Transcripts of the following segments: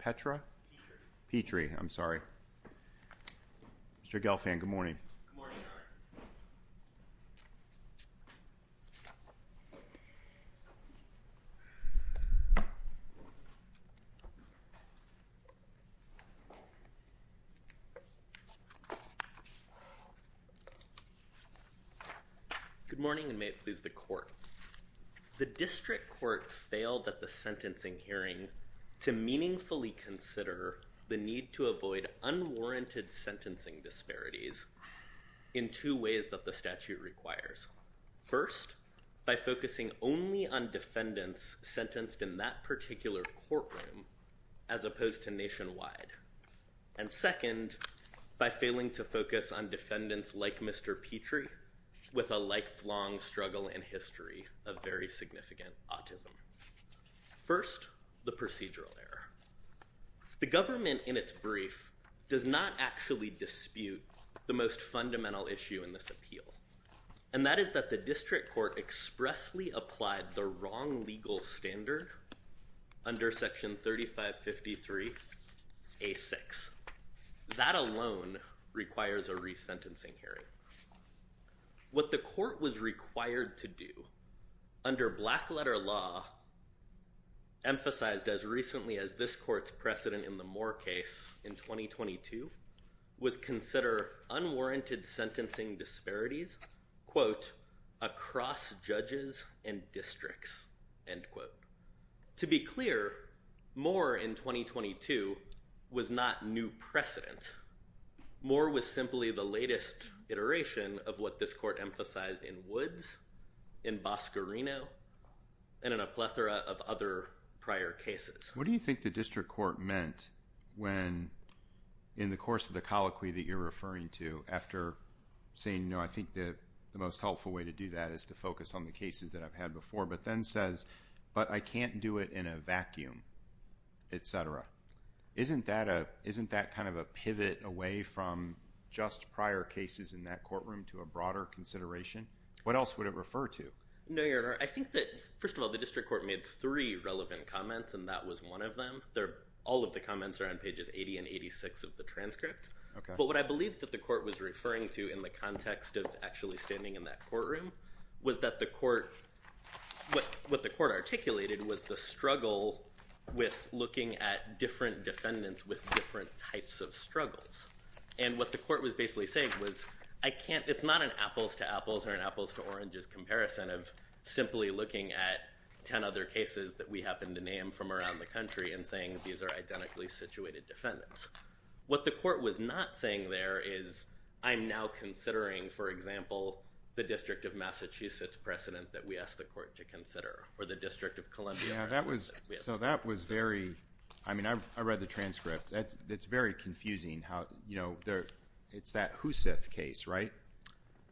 Petre, I'm sorry. Mr. Gelfand, good morning. Good morning. Good morning and may it please the court. The district court failed at the sentencing hearing to meaningfully consider the need to avoid unwarranted sentencing disparities in two ways that the statute requires. First, by focusing only on defendants sentenced in that particular courtroom as opposed to nationwide. And second, by failing to focus on defendants like Mr. Petre with a lifelong struggle in history of very significant autism. First, the procedural error. The government in its brief does not actually dispute the most fundamental issue in this appeal. And that is that the district court expressly applied the wrong legal standard under Section 3553. That alone requires a resentencing hearing. What the court was required to do under black letter law. Emphasized as recently as this court's precedent in the more case in 2022 was consider unwarranted sentencing disparities quote across judges and districts. To be clear, more in 2022 was not new precedent. More was simply the latest iteration of what this court emphasized in woods in Bosco Reno and in a plethora of other prior cases. What do you think the district court meant when in the course of the colloquy that you're referring to after saying, no, I think that the most helpful way to do that is to focus on the cases that I've had before. But then says, but I can't do it in a vacuum, etc. Isn't that a isn't that kind of a pivot away from just prior cases in that courtroom to a broader consideration? What else would it refer to? No, I think that, first of all, the district court made three relevant comments, and that was one of them. They're all of the comments are on pages 80 and 86 of the transcript. But what I believe that the court was referring to in the context of actually standing in that courtroom was that the court. But what the court articulated was the struggle with looking at different defendants with different types of struggles. And what the court was basically saying was, I can't. It's not an apples to apples or an apples to oranges comparison of simply looking at 10 other cases that we happen to name from around the country and saying these are identically situated defendants. What the court was not saying there is I'm now considering, for example, the district of Massachusetts precedent that we asked the court to consider or the district of Columbia. Yeah, that was so that was very I mean, I read the transcript. It's very confusing how, you know, there it's that who said the case, right?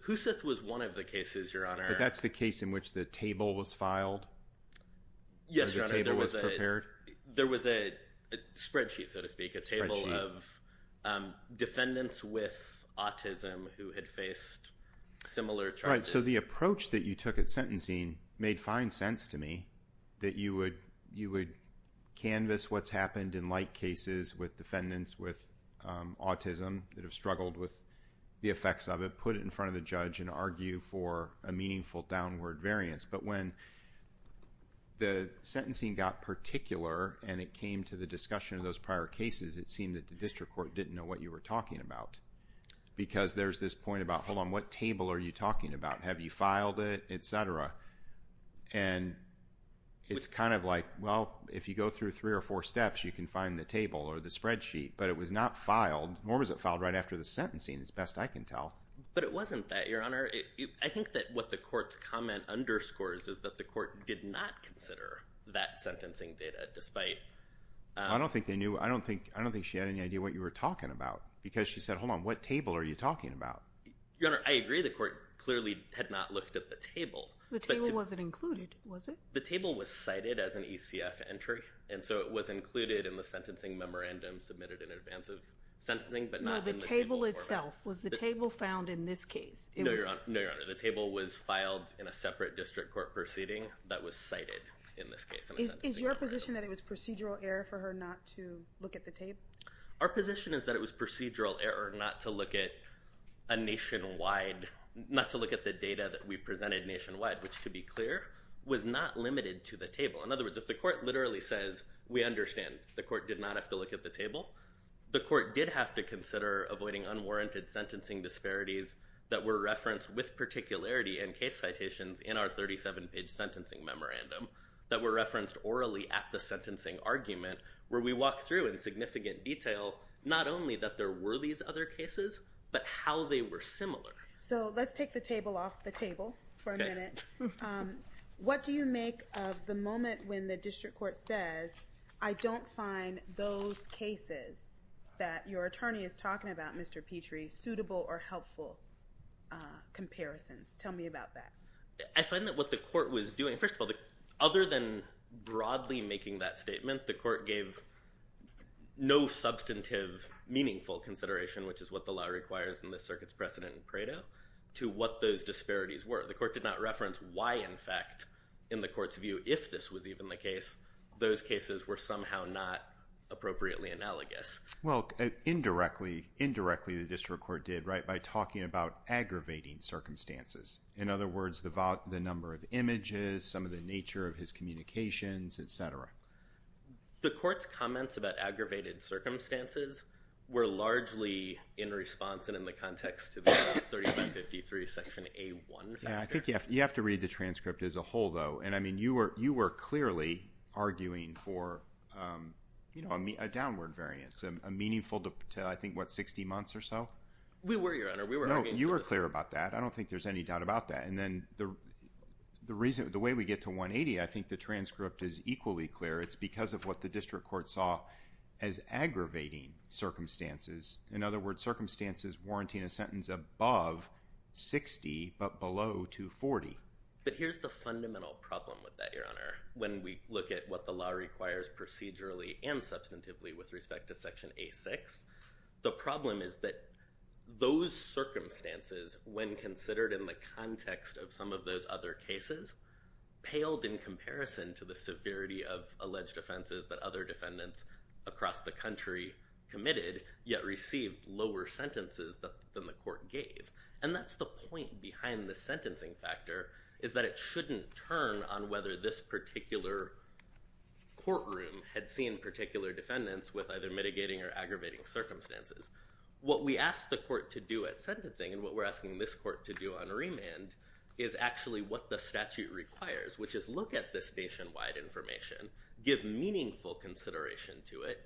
Who said was one of the cases your honor. But that's the case in which the table was filed. Yes, there was a there was a spreadsheet, so to speak, a table of defendants with autism who had faced similar. So the approach that you took at sentencing made fine sense to me that you would you would canvas what's happened in light cases with defendants with autism that have struggled with the effects of it. Put it in front of the judge and argue for a meaningful downward variance. But when the sentencing got particular and it came to the discussion of those prior cases, it seemed that the district court didn't know what you were talking about. Because there's this point about, hold on, what table are you talking about? Have you filed it, et cetera? And it's kind of like, well, if you go through three or four steps, you can find the table or the spreadsheet. But it was not filed. Nor was it filed right after the sentencing, as best I can tell. But it wasn't that your honor. I think that what the court's comment underscores is that the court did not consider that sentencing data despite. I don't think they knew. I don't think I don't think she had any idea what you were talking about because she said, hold on, what table are you talking about? Your honor, I agree. The court clearly had not looked at the table. The table wasn't included, was it? The table was cited as an ECF entry. And so it was included in the sentencing memorandum submitted in advance of sentencing, but not in the table itself. Was the table found in this case? No, your honor. The table was filed in a separate district court proceeding that was cited in this case. Is your position that it was procedural error for her not to look at the table? Our position is that it was procedural error not to look at a nationwide, not to look at the data that we presented nationwide, which, to be clear, was not limited to the table. In other words, if the court literally says, we understand the court did not have to look at the table, the court did have to consider avoiding unwarranted sentencing disparities that were referenced with particularity in case citations in our 37-page sentencing memorandum. That were referenced orally at the sentencing argument, where we walked through in significant detail not only that there were these other cases, but how they were similar. So let's take the table off the table for a minute. What do you make of the moment when the district court says, I don't find those cases that your attorney is talking about, Mr. Petrie, suitable or helpful comparisons? Tell me about that. I find that what the court was doing, first of all, other than broadly making that statement, the court gave no substantive meaningful consideration, which is what the law requires in this circuit's precedent and credo, to what those disparities were. The court did not reference why, in fact, in the court's view, if this was even the case, those cases were somehow not appropriately analogous. Well, indirectly, the district court did, right, by talking about aggravating circumstances. In other words, the number of images, some of the nature of his communications, et cetera. The court's comments about aggravated circumstances were largely in response and in the context of the 3553 section A1 factor. I think you have to read the transcript as a whole, though, and I mean, you were clearly arguing for a downward variance, a meaningful to, I think, what, 60 months or so? We were, Your Honor. We were arguing for this. No, you were clear about that. I don't think there's any doubt about that. And then the way we get to 180, I think the transcript is equally clear. It's because of what the district court saw as aggravating circumstances. In other words, circumstances warranting a sentence above 60 but below 240. But here's the fundamental problem with that, Your Honor, when we look at what the law requires procedurally and substantively with respect to section A6. The problem is that those circumstances, when considered in the context of some of those other cases, paled in comparison to the severity of alleged offenses that other defendants across the country committed, yet received lower sentences than the court gave. And that's the point behind the sentencing factor, is that it shouldn't turn on whether this particular courtroom had seen particular defendants with either mitigating or aggravating circumstances. What we asked the court to do at sentencing and what we're asking this court to do on remand is actually what the statute requires, which is look at this nationwide information, give meaningful consideration to it.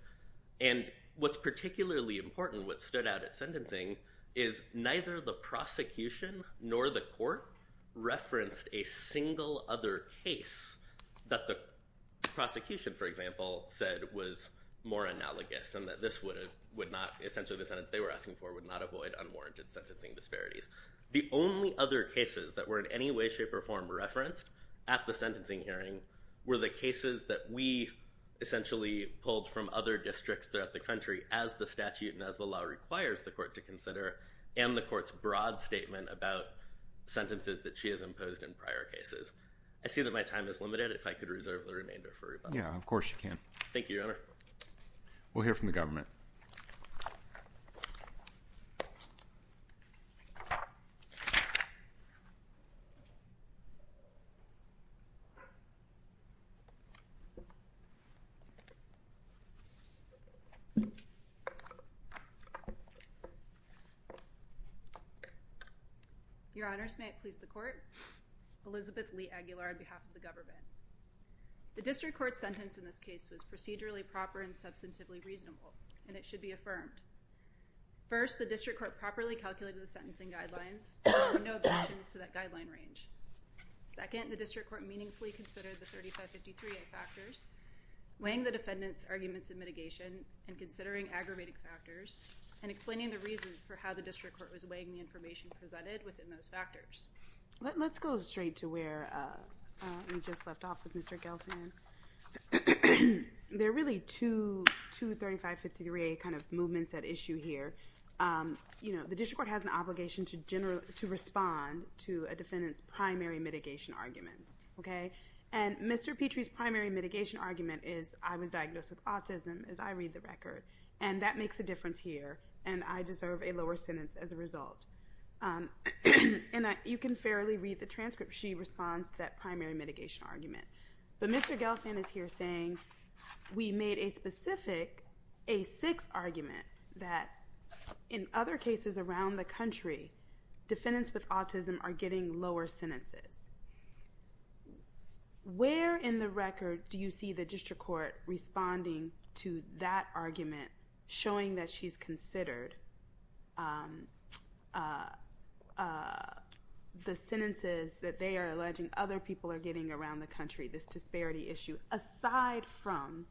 And what's particularly important, what stood out at sentencing, is neither the prosecution nor the court referenced a single other case that the prosecution, for example, said was more analogous and that this would not, essentially the sentence they were asking for, would not avoid unwarranted sentencing disparities. The only other cases that were in any way, shape, or form referenced at the sentencing hearing were the cases that we essentially pulled from other districts throughout the country as the statute and as the law requires the court to consider and the court's broad statement about sentences that she has imposed in prior cases. I see that my time is limited. If I could reserve the remainder for Reuben. Yeah, of course you can. Thank you, Your Honor. We'll hear from the government. Your Honors, may it please the court, Elizabeth Lee Aguilar on behalf of the government. The district court sentence in this case was procedurally proper and substantively reasonable, and it should be affirmed. First, the district court properly calculated the sentencing guidelines, and there were no objections to that guideline range. Second, the district court meaningfully considered the 3553A factors, weighing the defendant's arguments of mitigation and considering aggravating factors, and explaining the reasons for how the district court was weighing the information presented within those factors. Let's go straight to where we just left off with Mr. Gelfand. There are really two 3553A movements at issue here. The district court has an obligation to respond to a defendant's primary mitigation arguments. Mr. Petrie's primary mitigation argument is, I was diagnosed with autism, as I read the record, and that makes a difference here, and I deserve a lower sentence as a result. You can fairly read the transcript. She responds to that primary mitigation argument. But Mr. Gelfand is here saying, we made a specific A6 argument that in other cases around the country, defendants with autism are getting lower sentences. Where in the record do you see the district court responding to that argument, showing that she's considered the sentences that they are alleging other people are getting around the country, this disparity issue, aside from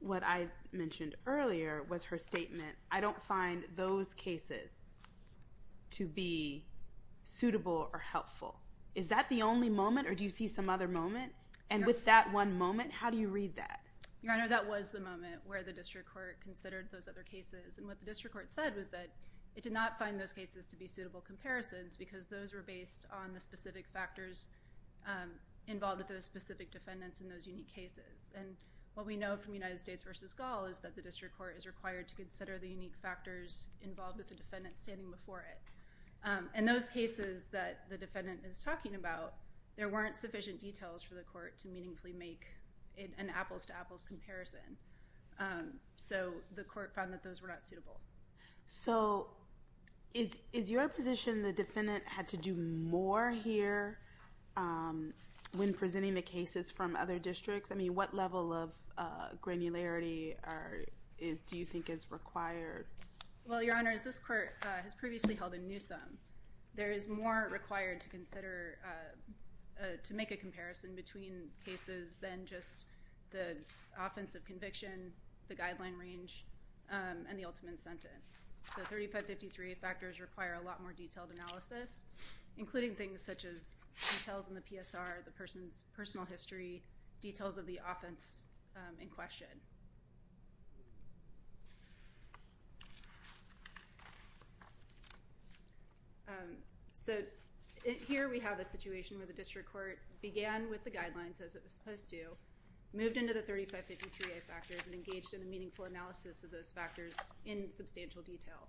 what I mentioned earlier was her statement, I don't find those cases to be suitable or helpful. Is that the only moment, or do you see some other moment? And with that one moment, how do you read that? Your Honor, that was the moment where the district court considered those other cases. And what the district court said was that it did not find those cases to be suitable comparisons because those were based on the specific factors involved with those specific defendants in those unique cases. And what we know from United States v. Gall is that the district court is required to consider the unique factors involved with the defendant standing before it. And those cases that the defendant is talking about, there weren't sufficient details for the court to meaningfully make an apples-to-apples comparison. So the court found that those were not suitable. So is your position the defendant had to do more here when presenting the cases from other districts? I mean, what level of granularity do you think is required? Well, Your Honor, as this court has previously held in Newsom, there is more required to make a comparison between cases than just the offense of conviction, the guideline range, and the ultimate sentence. The 3553A factors require a lot more detailed analysis, including things such as details in the PSR, the person's personal history, details of the offense in question. So here we have a situation where the district court began with the guidelines as it was supposed to, moved into the 3553A factors, and engaged in a meaningful analysis of those factors in substantial detail.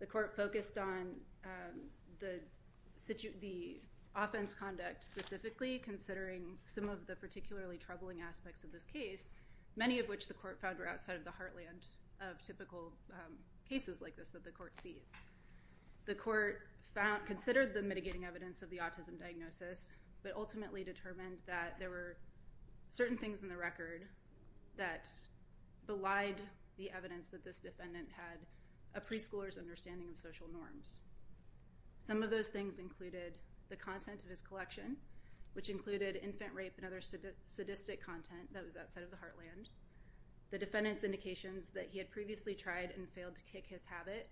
The court focused on the offense conduct specifically, considering some of the particularly troubling aspects of this case, many of which the court found were outside of the heartland of typical cases like this that the court sees. The court considered the mitigating evidence of the autism diagnosis, but ultimately determined that there were certain things in the record that belied the evidence that this defendant had a preschooler's understanding of social norms. Some of those things included the content of his collection, which included infant rape and other sadistic content that was outside of the heartland, the defendant's indications that he had previously tried and failed to kick his habit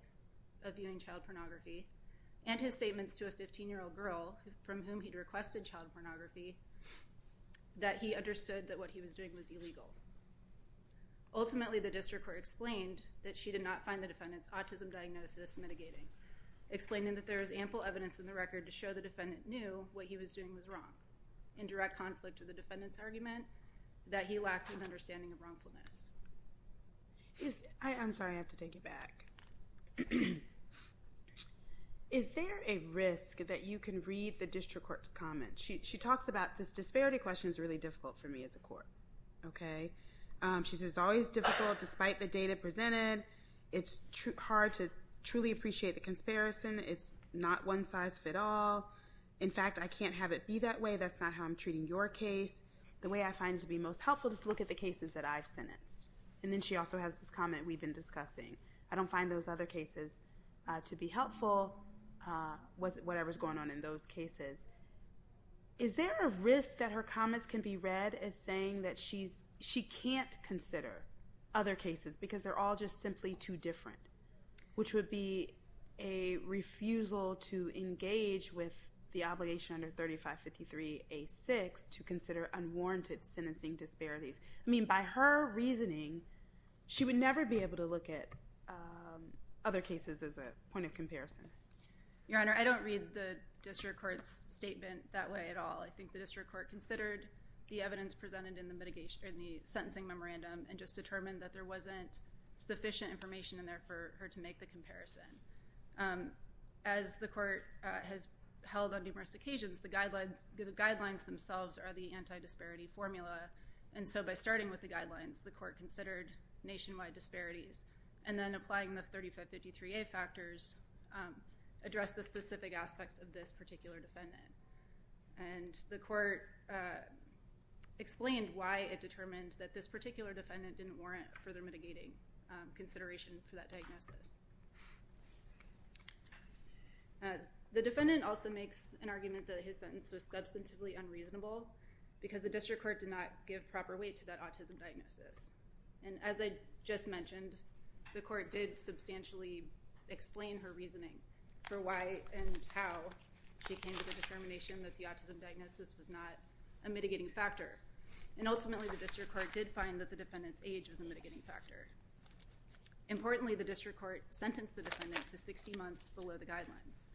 of viewing child pornography, and his statements to a 15-year-old girl from whom he'd requested child pornography that he understood that what he was doing was illegal. Ultimately, the district court explained that she did not find the defendant's autism diagnosis mitigating, explaining that there is ample evidence in the record to show the defendant knew what he was doing was wrong, in direct conflict with the defendant's argument that he lacked an understanding of wrongfulness. I'm sorry, I have to take it back. Is there a risk that you can read the district court's comments? She talks about this disparity question is really difficult for me as a court. She says, it's always difficult despite the data presented. It's hard to truly appreciate the conspiracy. It's not one size fits all. In fact, I can't have it be that way. That's not how I'm treating your case. The way I find it to be most helpful is to look at the cases that I've sentenced. And then she also has this comment we've been discussing. I don't find those other cases to be helpful, whatever's going on in those cases. Is there a risk that her comments can be read as saying that she can't consider other cases because they're all just simply too different? Which would be a refusal to engage with the obligation under 3553A6 to consider unwarranted sentencing disparities. I mean, by her reasoning, she would never be able to look at other cases as a point of comparison. Your Honor, I don't read the district court's statement that way at all. I think the district court considered the evidence presented in the sentencing memorandum and just determined that there wasn't sufficient information in there for her to make the comparison. As the court has held on numerous occasions, the guidelines themselves are the anti-disparity formula. And so by starting with the guidelines, the court considered nationwide disparities. And then applying the 3553A factors addressed the specific aspects of this particular defendant. And the court explained why it determined that this particular defendant didn't warrant further mitigating consideration for that diagnosis. The defendant also makes an argument that his sentence was substantively unreasonable because the district court did not give proper weight to that autism diagnosis. And as I just mentioned, the court did substantially explain her reasoning for why and how she came to the determination that the autism diagnosis was not a mitigating factor. And ultimately, the district court did find that the defendant's age was a mitigating factor. Importantly, the district court sentenced the defendant to 60 months below the guidelines.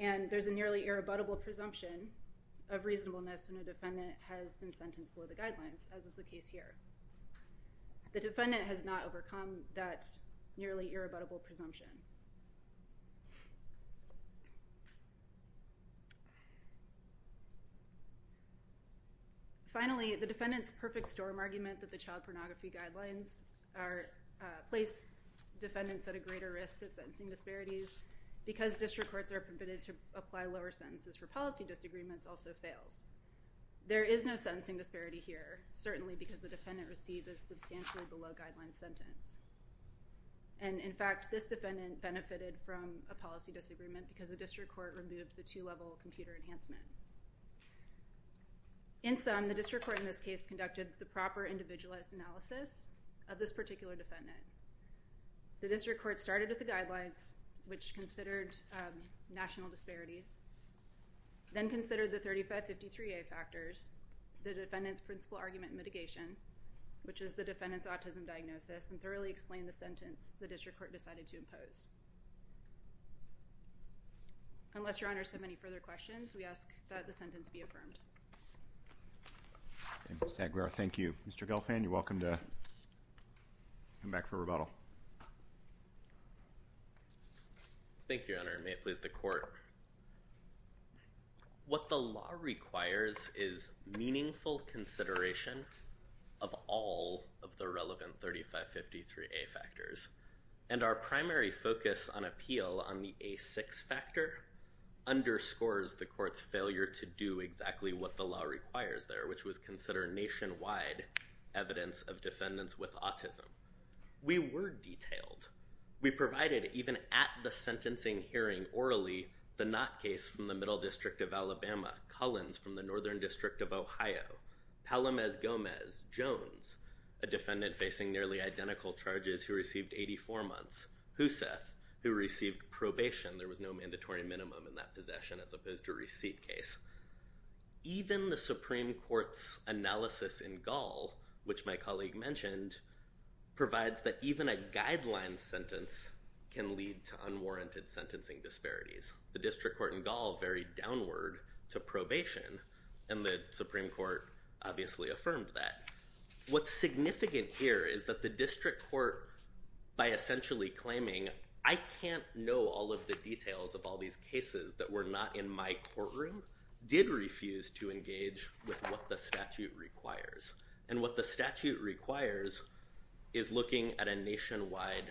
And there's a nearly irrebuttable presumption of reasonableness when a defendant has been sentenced below the guidelines, as was the case here. The defendant has not overcome that nearly irrebuttable presumption. Finally, the defendant's perfect storm argument that the child pornography guidelines place defendants at a greater risk of sentencing disparities because district courts are permitted to apply lower sentences for policy disagreements also fails. There is no sentencing disparity here, certainly because the defendant received a substantially below guidelines sentence. And in fact, this defendant benefited from a policy disagreement because the district court removed the two-level computer enhancement. In sum, the district court in this case conducted the proper individualized analysis of this particular defendant. The district court started with the guidelines, which considered national disparities, then considered the 3553A factors, the defendant's principle argument mitigation, which is the defendant's autism diagnosis, and thoroughly explained the sentence the district court decided to impose. Unless your honors have any further questions, we ask that the sentence be affirmed. Mr. Aguero, thank you. Mr. Gelfand, you're welcome to come back for rebuttal. Thank you, Your Honor. May it please the court. What the law requires is meaningful consideration of all of the relevant 3553A factors, and our primary focus on appeal on the A6 factor underscores the court's failure to do exactly what the law requires there, which was consider nationwide evidence of defendants with autism. We were detailed. We provided, even at the sentencing hearing orally, the Knott case from the Middle District of Alabama, Collins from the Northern District of Ohio, Palamez Gomez, Jones, a defendant facing nearly identical charges who received 84 months, Husseth, who received probation, there was no mandatory minimum in that possession as opposed to receipt case. Even the Supreme Court's analysis in Gall, which my colleague mentioned, provides that even a guideline sentence can lead to unwarranted sentencing disparities. The district court in Gall varied downward to probation, and the Supreme Court obviously affirmed that. What's significant here is that the district court, by essentially claiming, I can't know all of the details of all these cases that were not in my courtroom, did refuse to engage with what the statute requires. And what the statute requires is looking at a nationwide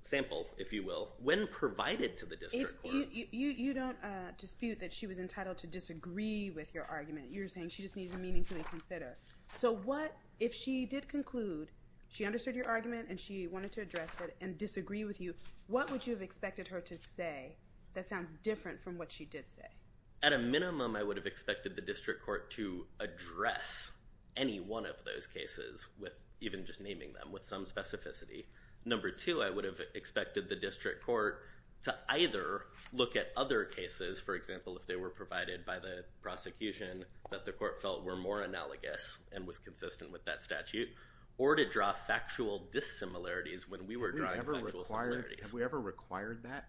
sample, if you will. When provided to the district court. You don't dispute that she was entitled to disagree with your argument. You're saying she just needed to meaningfully consider. So what if she did conclude she understood your argument and she wanted to address it and disagree with you, what would you have expected her to say that sounds different from what she did say? At a minimum, I would have expected the district court to address any one of those cases, even just naming them, with some specificity. Number two, I would have expected the district court to either look at other cases, for example, if they were provided by the prosecution, that the court felt were more analogous and was consistent with that statute, or to draw factual dissimilarities when we were drawing factual similarities. Have we ever required that?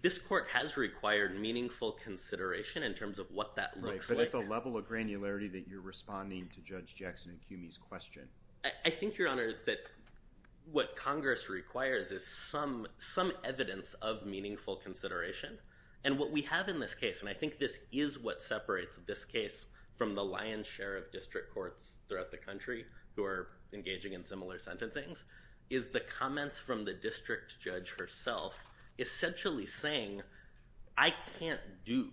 This court has required meaningful consideration in terms of what that looks like. But at the level of granularity that you're responding to Judge Jackson and Cumie's question. I think, Your Honor, that what Congress requires is some evidence of meaningful consideration. And what we have in this case, and I think this is what separates this case from the lion's share of district courts throughout the country who are engaging in similar sentencing, is the comments from the district judge herself essentially saying, I can't do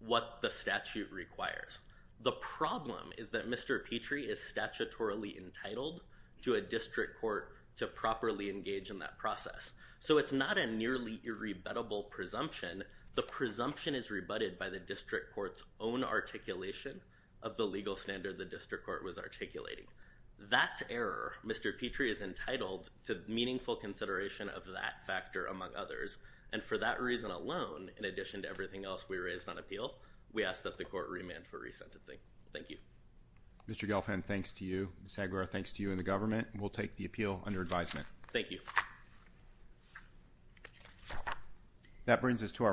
what the statute requires. The problem is that Mr. Petrie is statutorily entitled to a district court to properly engage in that process. So it's not a nearly irrebuttable presumption. The presumption is rebutted by the district court's own articulation of the legal standard the district court was articulating. That's error. Mr. Petrie is entitled to meaningful consideration of that factor, among others. And for that reason alone, in addition to everything else we raised on appeal, we ask that the court remand for resentencing. Thank you. Mr. Gelfand, thanks to you. Ms. Aguero, thanks to you and the government. We'll take the appeal under advisement. Thank you.